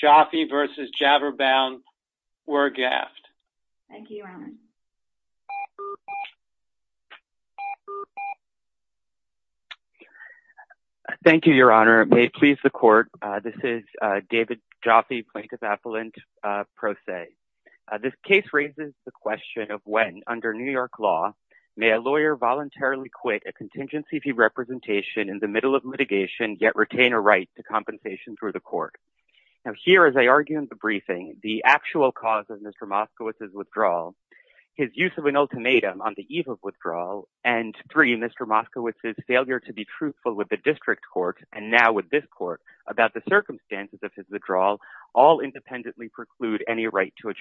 Jaffe v. Jabberbound W. Gafft Thank you, Your Honor. May it please the Court, this is David Jaffe, Plaintiff Appellant Pro Se. This case raises the question of when, under New York law, may a lawyer voluntarily quit a contingency fee representation in the middle of litigation, yet retain a right to compensation through the Court. Now, here, as I argue in the briefing, the actual cause of Mr. Moskowitz's withdrawal, his use of an ultimatum on the eve of withdrawal, and three, Mr. Moskowitz's failure to be truthful with the District Court, and now with this Court, about the circumstances of his withdrawal, all independently preclude any right to a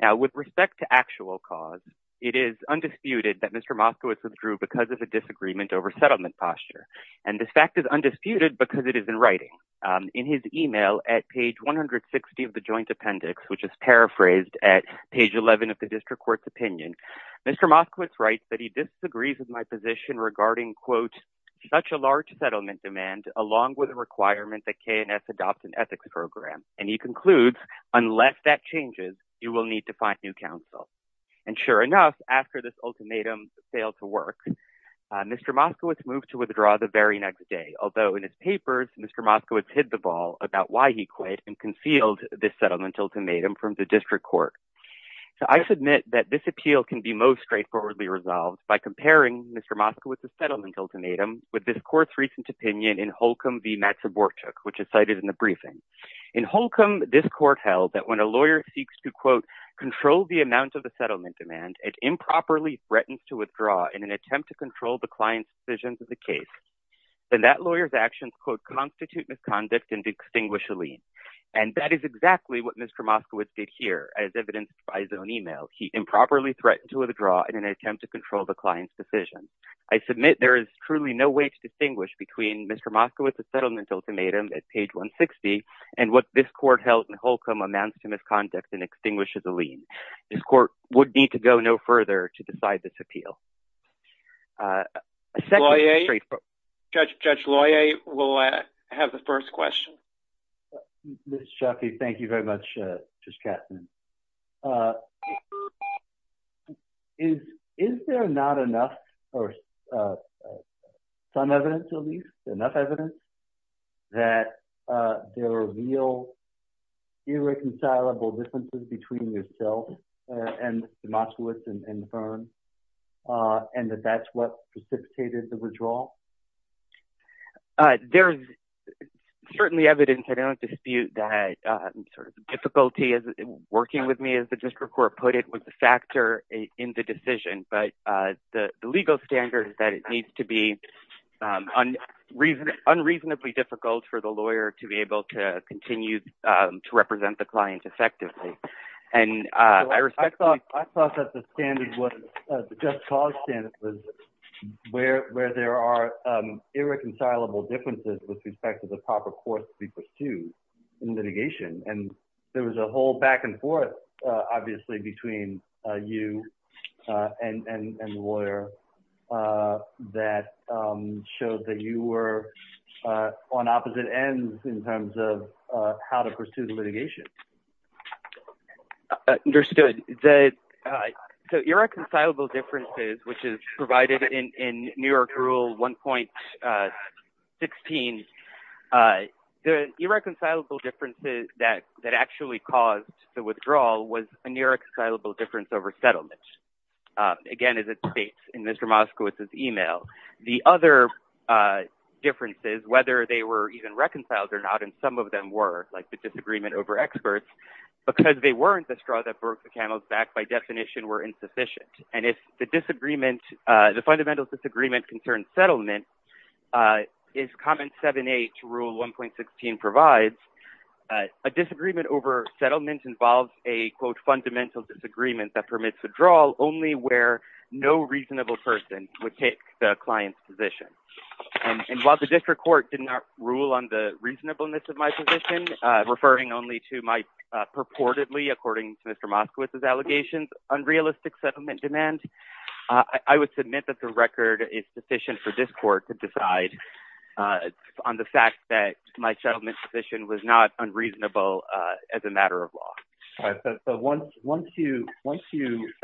Now, with respect to actual cause, it is undisputed that Mr. Moskowitz withdrew because of a disagreement over settlement posture, and this fact is undisputed because it is in writing. In his email at page 160 of the Joint Appendix, which is paraphrased at page 11 of the District Court's opinion, Mr. Moskowitz writes that he disagrees with my position regarding, quote, along with a requirement that K&S adopt an ethics program, and he concludes, unless that changes, you will need to find new counsel. And sure enough, after this ultimatum's failed to work, Mr. Moskowitz moved to withdraw the very next day, although in his papers, Mr. Moskowitz hid the ball about why he quit and concealed this settlement ultimatum from the District Court. So, I submit that this appeal can be most straightforwardly resolved by comparing Mr. Moskowitz's settlement ultimatum with this court's recent opinion in Holcomb v. Matsubortuk, which is cited in the briefing. In Holcomb, this court held that when a lawyer seeks to, quote, control the amount of the settlement demand, it improperly threatens to withdraw in an attempt to control the client's decisions of the case, then that lawyer's actions, quote, constitute misconduct and extinguish a lien. And that is exactly what Mr. Moskowitz did here, as evidenced by his own email. He improperly threatened to withdraw in an attempt to control the client's decision. I submit there is truly no way to distinguish between Mr. Moskowitz's settlement ultimatum at page 160 and what this court held in Holcomb amounts to misconduct and extinguishes a lien. This court would need to go no further to decide this appeal. Judge Loyer will have the floor. Is there not enough, or some evidence at least, enough evidence that there are real irreconcilable differences between yourself and Mr. Moskowitz and Fern, and that that's what precipitated the withdrawal? There's certainly evidence. I don't dispute that sort of difficulty working with me, as the district court put it, was the factor in the decision. But the legal standard is that it needs to be unreasonably difficult for the lawyer to be able to continue to represent the client effectively. I thought that the standard was, the just cause standard, was where there are irreconcilable differences with respect to the proper course to be pursued in litigation. And there was a whole back and forth, obviously, between you and Loyer that showed that you were on opposite ends in terms of how to pursue the litigation. Understood. So irreconcilable differences, which is provided in New York rule 1.16, the irreconcilable differences that actually caused the withdrawal was a irreconcilable difference over settlement. Again, as it states in Mr. Moskowitz's email. The other differences, whether they were even reconciled or not, and some of them were, like the disagreement over experts, because they weren't the straw that broke the camel's back, by definition were insufficient. And if the disagreement, the fundamental disagreement concerns settlement, as comment 7.8 rule 1.16 provides, a disagreement over settlement involves a, quote, fundamental disagreement that permits withdrawal only where no reasonable person would the client's position. And while the district court did not rule on the reasonableness of my position, referring only to my purportedly, according to Mr. Moskowitz's allegations, unrealistic settlement demand, I would submit that the record is sufficient for this court to decide on the fact that my settlement position was not unreasonable as a matter of law. All right. So once you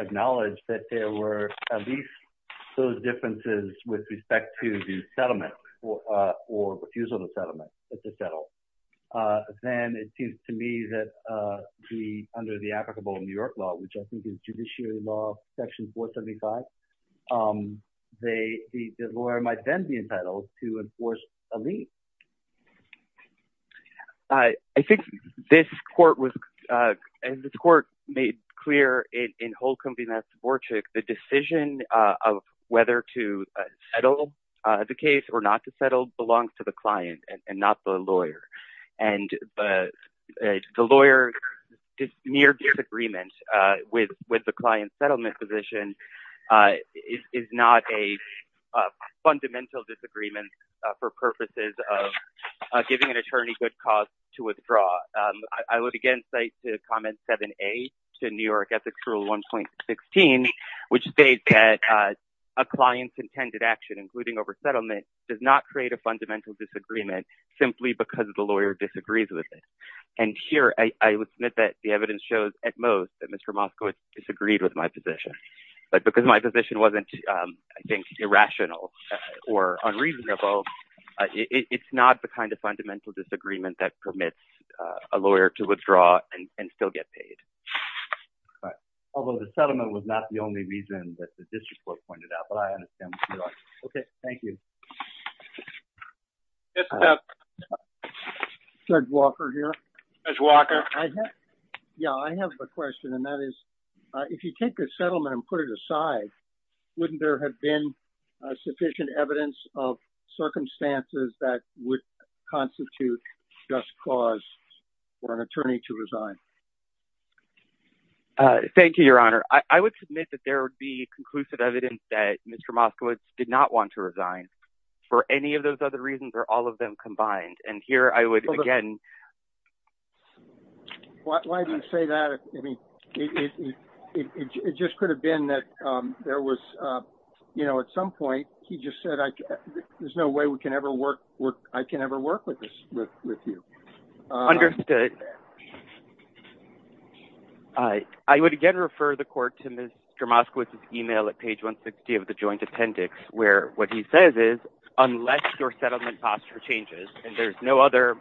acknowledge that there were at least those differences with respect to the settlement or refusal to settle, then it seems to me that under the applicable New York law, which I think is judiciary law section 475, the lawyer might then be entitled to enforce a court ruling. And this court made clear in Holcomb v. Mastoborczyk, the decision of whether to settle the case or not to settle belongs to the client and not the lawyer. And the lawyer near disagreement with the client's settlement position is not a fundamental disagreement for purposes of giving an attorney good cause to withdraw. I would again say to comment 7A to New York ethics rule 1.16, which states that a client's intended action, including over settlement, does not create a fundamental disagreement simply because the lawyer disagrees with it. And here I would submit that the evidence shows at most that Mr. Moskowitz disagreed with my rebuttal. It's not the kind of fundamental disagreement that permits a lawyer to withdraw and still get paid. All right. Although the settlement was not the only reason that the district court pointed out, but I understand what you're saying. Okay. Thank you. Judge Walker here. Judge Walker. Yeah. I have a question and that is if you take the settlement and put it aside, wouldn't there have been sufficient evidence of circumstances that would constitute just cause for an attorney to resign? Thank you, your honor. I would submit that there would be conclusive evidence that Mr. Moskowitz did not want to resign for any of those other reasons or all of them combined. And here I would again. Why do you say that? I mean, it just could have been that there was, you know, at some point, he just said, there's no way we can ever work. I can never work with this with you. Understood. I would again refer the court to Mr. Moskowitz's email at page 160 of the joint appendix, where what he says is, unless your settlement passes for changes and there's no other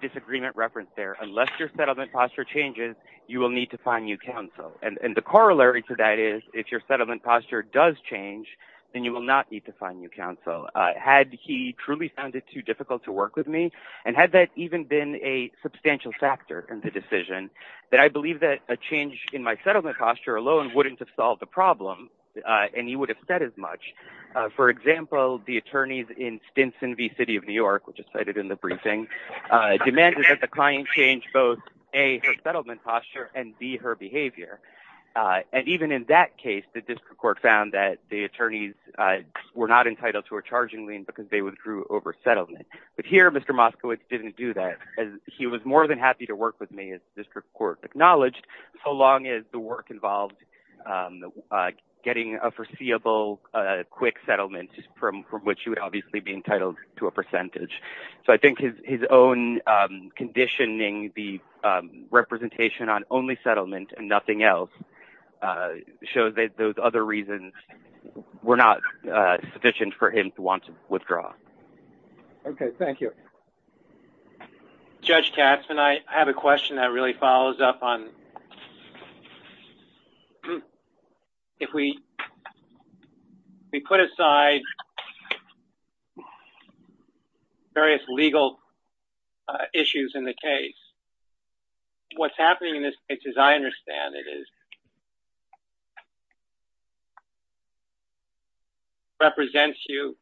disagreement reference there, unless your settlement posture changes, you will need to find new counsel. And the corollary to that is if your settlement posture does change, then you will not need to find new counsel. Had he truly found it too difficult to work with me and had that even been a substantial factor in the decision, that I believe that a change in my settlement posture alone wouldn't have solved the problem. And he would have said as much, for example, the attorneys in Stinson v. City of New York, which is cited in the briefing, demanded that the client change both A, her settlement posture, and B, her behavior. And even in that case, the district court found that the attorneys were not entitled to a charging lien because they withdrew over settlement. But here, Mr. Moskowitz didn't do that, as he was more than happy to work with me, as the district court acknowledged, so long as the work involved getting a foreseeable quick settlement from which he would obviously be entitled to a percentage. So I think his own conditioning, the representation on only settlement and nothing else, shows that those other reasons were not sufficient for him to want to withdraw. Okay. Thank you. Judge Katzman, I have a question that really follows up on... If we put aside various legal issues in the case, what's happening in this case, as I understand it, is represents you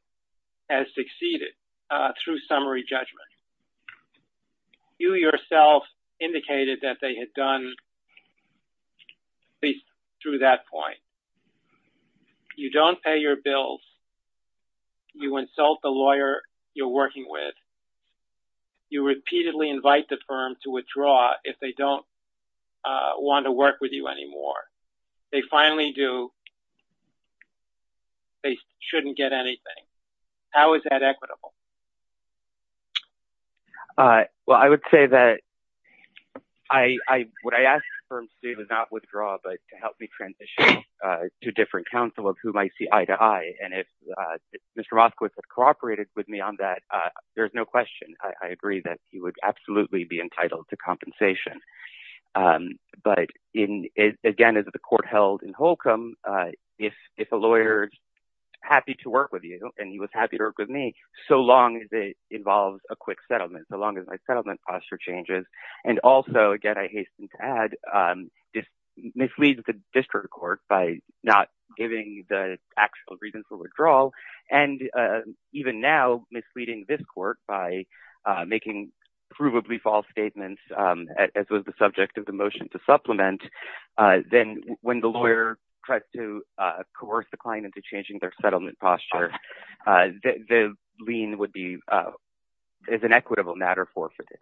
as succeeded through summary judgment. You yourself indicated that they had done at least through that point. You don't pay your bills. You insult the lawyer you're working with. You repeatedly invite the firm to withdraw if they don't want to work with you anymore. They finally do. They shouldn't get anything. How is that possible? Well, I would say that what I asked the firm to do was not withdraw, but to help me transition to a different counsel of whom I see eye to eye. And if Mr. Moskowitz had cooperated with me on that, there's no question. I agree that he would absolutely be entitled to compensation. But again, as the court held in Holcomb, if a lawyer's happy to work with you and he was happy to work with me, so long as it involves a quick settlement, so long as my settlement posture changes, and also, again, I hasten to add, misleads the district court by not giving the actual reason for withdrawal, and even now misleading this court by making provably false statements, as was the subject of the motion to supplement, then when the lawyer tries to lien, it's an equitable matter forfeited.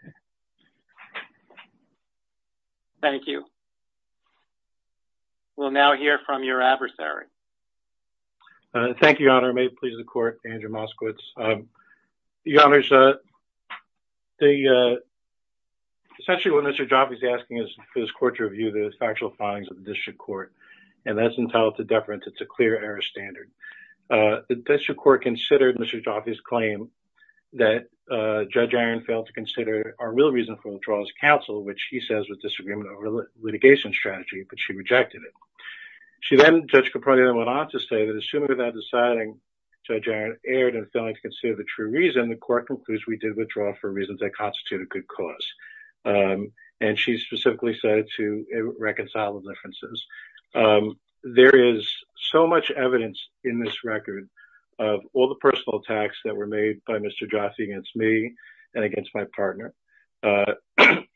Thank you. We'll now hear from your adversary. Thank you, Your Honor. May it please the court, Andrew Moskowitz. Your Honors, essentially what Mr. Jaffe is asking is for this court to review the factual findings of the district court, and that's entitled to deference. It's a clear error standard. The district court considered Mr. Jaffe's claim that Judge Iron failed to consider a real reason for withdrawal as counsel, which he says was disagreement over litigation strategy, but she rejected it. She then, Judge Caproni then went on to say that assuming that that deciding Judge Iron erred in failing to consider the true reason, the court concludes we did withdraw for reasons that constitute a good cause. And she specifically said it to reconcile the differences. There is so much evidence in this record of all the personal attacks that were made by Mr. Jaffe against me and against my partner.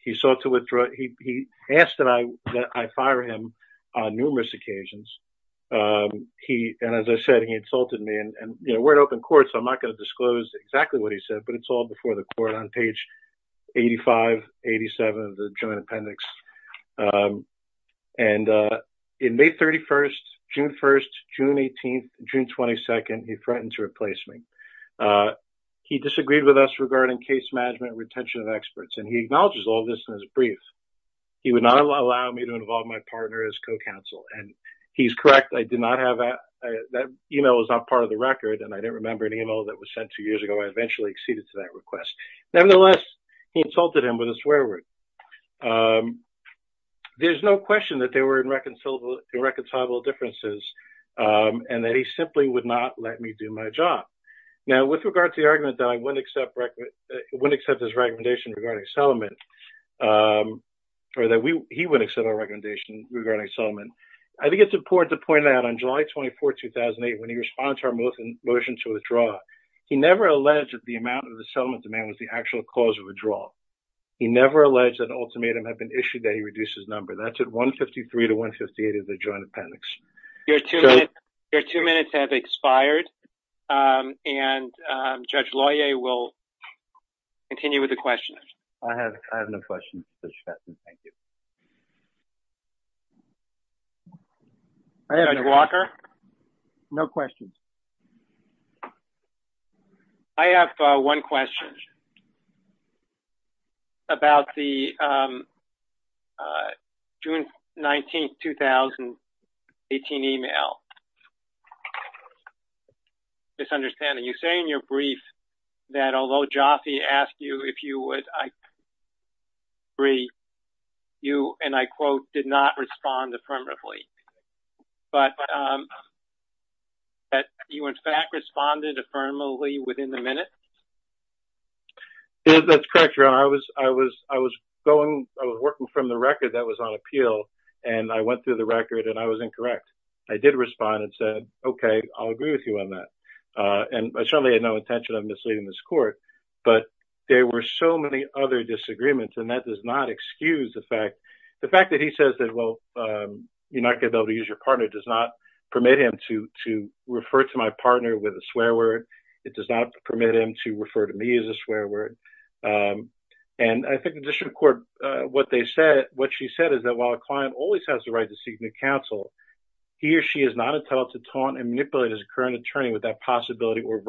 He sought to withdraw. He asked that I fire him on numerous occasions. And as I said, he insulted me. And we're an open court, so I'm not going to disclose exactly what he said, but it's all before the court on page 85, 87 of the joint appendix. And in May 31st, June 1st, June 18th, June 22nd, he threatened to replace me. He disagreed with us regarding case management and retention of experts, and he acknowledges all this in his brief. He would not allow me to involve my partner as co-counsel. And he's correct. I did not have that. That email was not part of the record, and I didn't remember an email that was sent two years ago. I eventually acceded to that request. Nevertheless, he insulted him with a swear word. There's no question that there were irreconcilable differences and that he simply would not let me do my job. Now, with regard to the argument that I wouldn't accept his recommendation regarding settlement, or that he wouldn't accept our recommendation regarding settlement, I think it's important to point out on July 24th, 2008, when he responded to our motion to withdraw, he never alleged that the amount of the settlement demand was the actual cause of withdrawal. He never alleged that an ultimatum had been issued that he reduced his number. That's at 153 to 158 of the joint appendix. Your two minutes have expired, and Judge Lawyer will continue with the questions. I have no questions. Judge Walker? No questions. I have one question about the June 19th, 2018 email. Misunderstanding. You say in your brief that although Jaffe asked you if you would agree, you, and I quote, did not respond affirmatively, but that you, in fact, responded affirmatively within the minute? That's correct, Your Honor. I was working from the record that was on appeal, and I went through the record, and I was incorrect. I did respond and said, okay, I'll agree with you on that, and I certainly had no intention of misleading this court, but there were so many other disagreements, and that does not excuse the fact that he says that, well, you're not going to be able to use your partner does not permit him to refer to my partner with a swear word. It does not permit him to refer to me as a swear word, and I think the district court, what she said is that while a client always has the right to seek new counsel, he or she is not entitled to taunt and manipulate his current attorney with that possibility or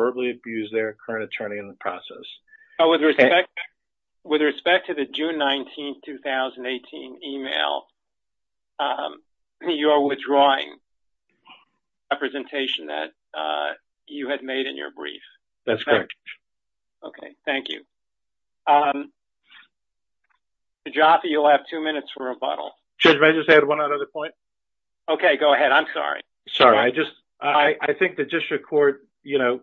With respect to the June 19, 2018, email, you are withdrawing a presentation that you had made in your brief. That's correct. Okay, thank you. Jaffe, you'll have two minutes for rebuttal. Judge, may I just add one other point? Okay, go ahead. I'm sorry. Sorry. I just, I think the district court, you know,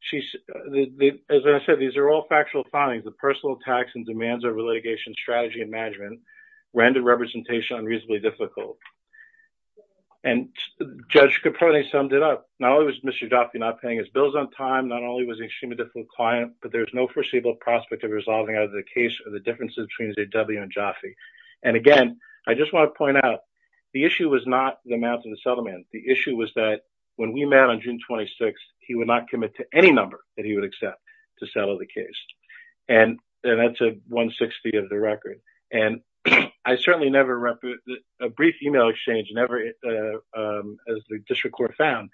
she's, as I said, these are all factual findings of personal attacks and demands over litigation strategy and management, random representation, unreasonably difficult, and Judge Caprone summed it up. Not only was Mr. Jaffe not paying his bills on time, not only was he an extremely difficult client, but there's no foreseeable prospect of resolving out of the case of the differences between A.W. and Jaffe, and again, I just want to point out, the issue was not the amount of the settlement. The issue was that when we met on June 26, he would not commit to any number that he would accept to settle the case, and that's a 160 of the record, and I certainly never, a brief email exchange never, as the district court found,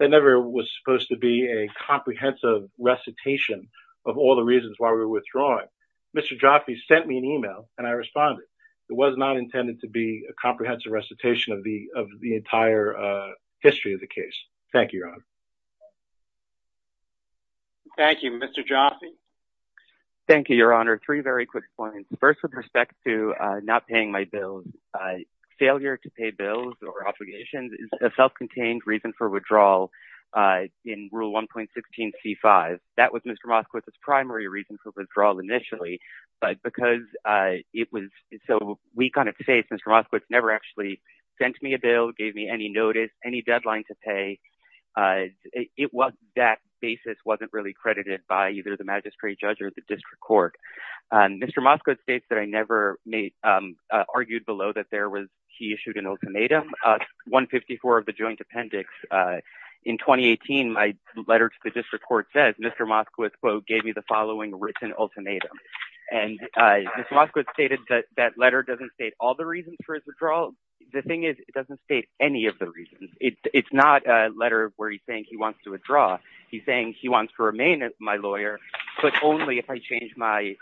that never was supposed to be a comprehensive recitation of all the reasons why we were withdrawing. Mr. Jaffe sent me an email, and I responded. It was not intended to be a comprehensive recitation of the entire history of the case. Thank you, Your Honor. Thank you. Mr. Jaffe? Thank you, Your Honor. Three very quick points. First, with respect to not paying my bills, failure to pay bills or obligations is a self-contained reason for withdrawal in Rule 1.16c5. That was Mr. Moskowitz's primary reason for withdrawal initially, but because it was so weak on its face, Mr. Moskowitz never actually sent me a bill, gave me any notice, any deadline to pay. That basis wasn't really credited by either the magistrate judge or the district court. Mr. Moskowitz states that I never made, argued below that there was, he issued an ultimatum, 154 of the joint appendix. In 2018, my letter to the district court says Mr. Moskowitz, quote, gave me the following written ultimatum, and Mr. Moskowitz stated that that letter doesn't all the reasons for his withdrawal. The thing is, it doesn't state any of the reasons. It's not a letter where he's saying he wants to withdraw. He's saying he wants to remain as my lawyer, but only if I change my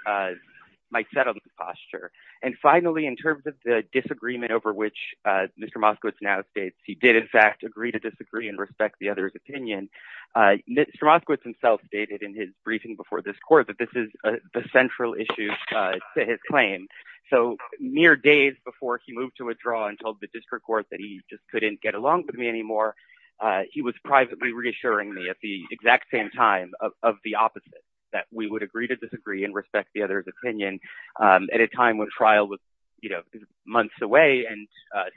settlement posture. And finally, in terms of the disagreement over which Mr. Moskowitz now states he did, in fact, agree to disagree and respect the other's opinion, Mr. Moskowitz himself stated in his briefing before this court that this is the central issue to his claim. So mere days before he moved to withdraw and told the district court that he just couldn't get along with me anymore, he was privately reassuring me at the exact same time of the opposite, that we would agree to disagree and respect the other's opinion. At a time when trial was, you know, months away, and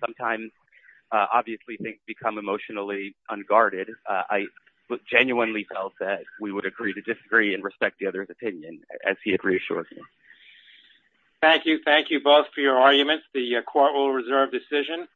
sometimes obviously things become emotionally unguarded, I genuinely felt that we would agree to disagree and respect the other's opinion, as he had reassured me. Thank you. Thank you both for your arguments. The court will reserve decision.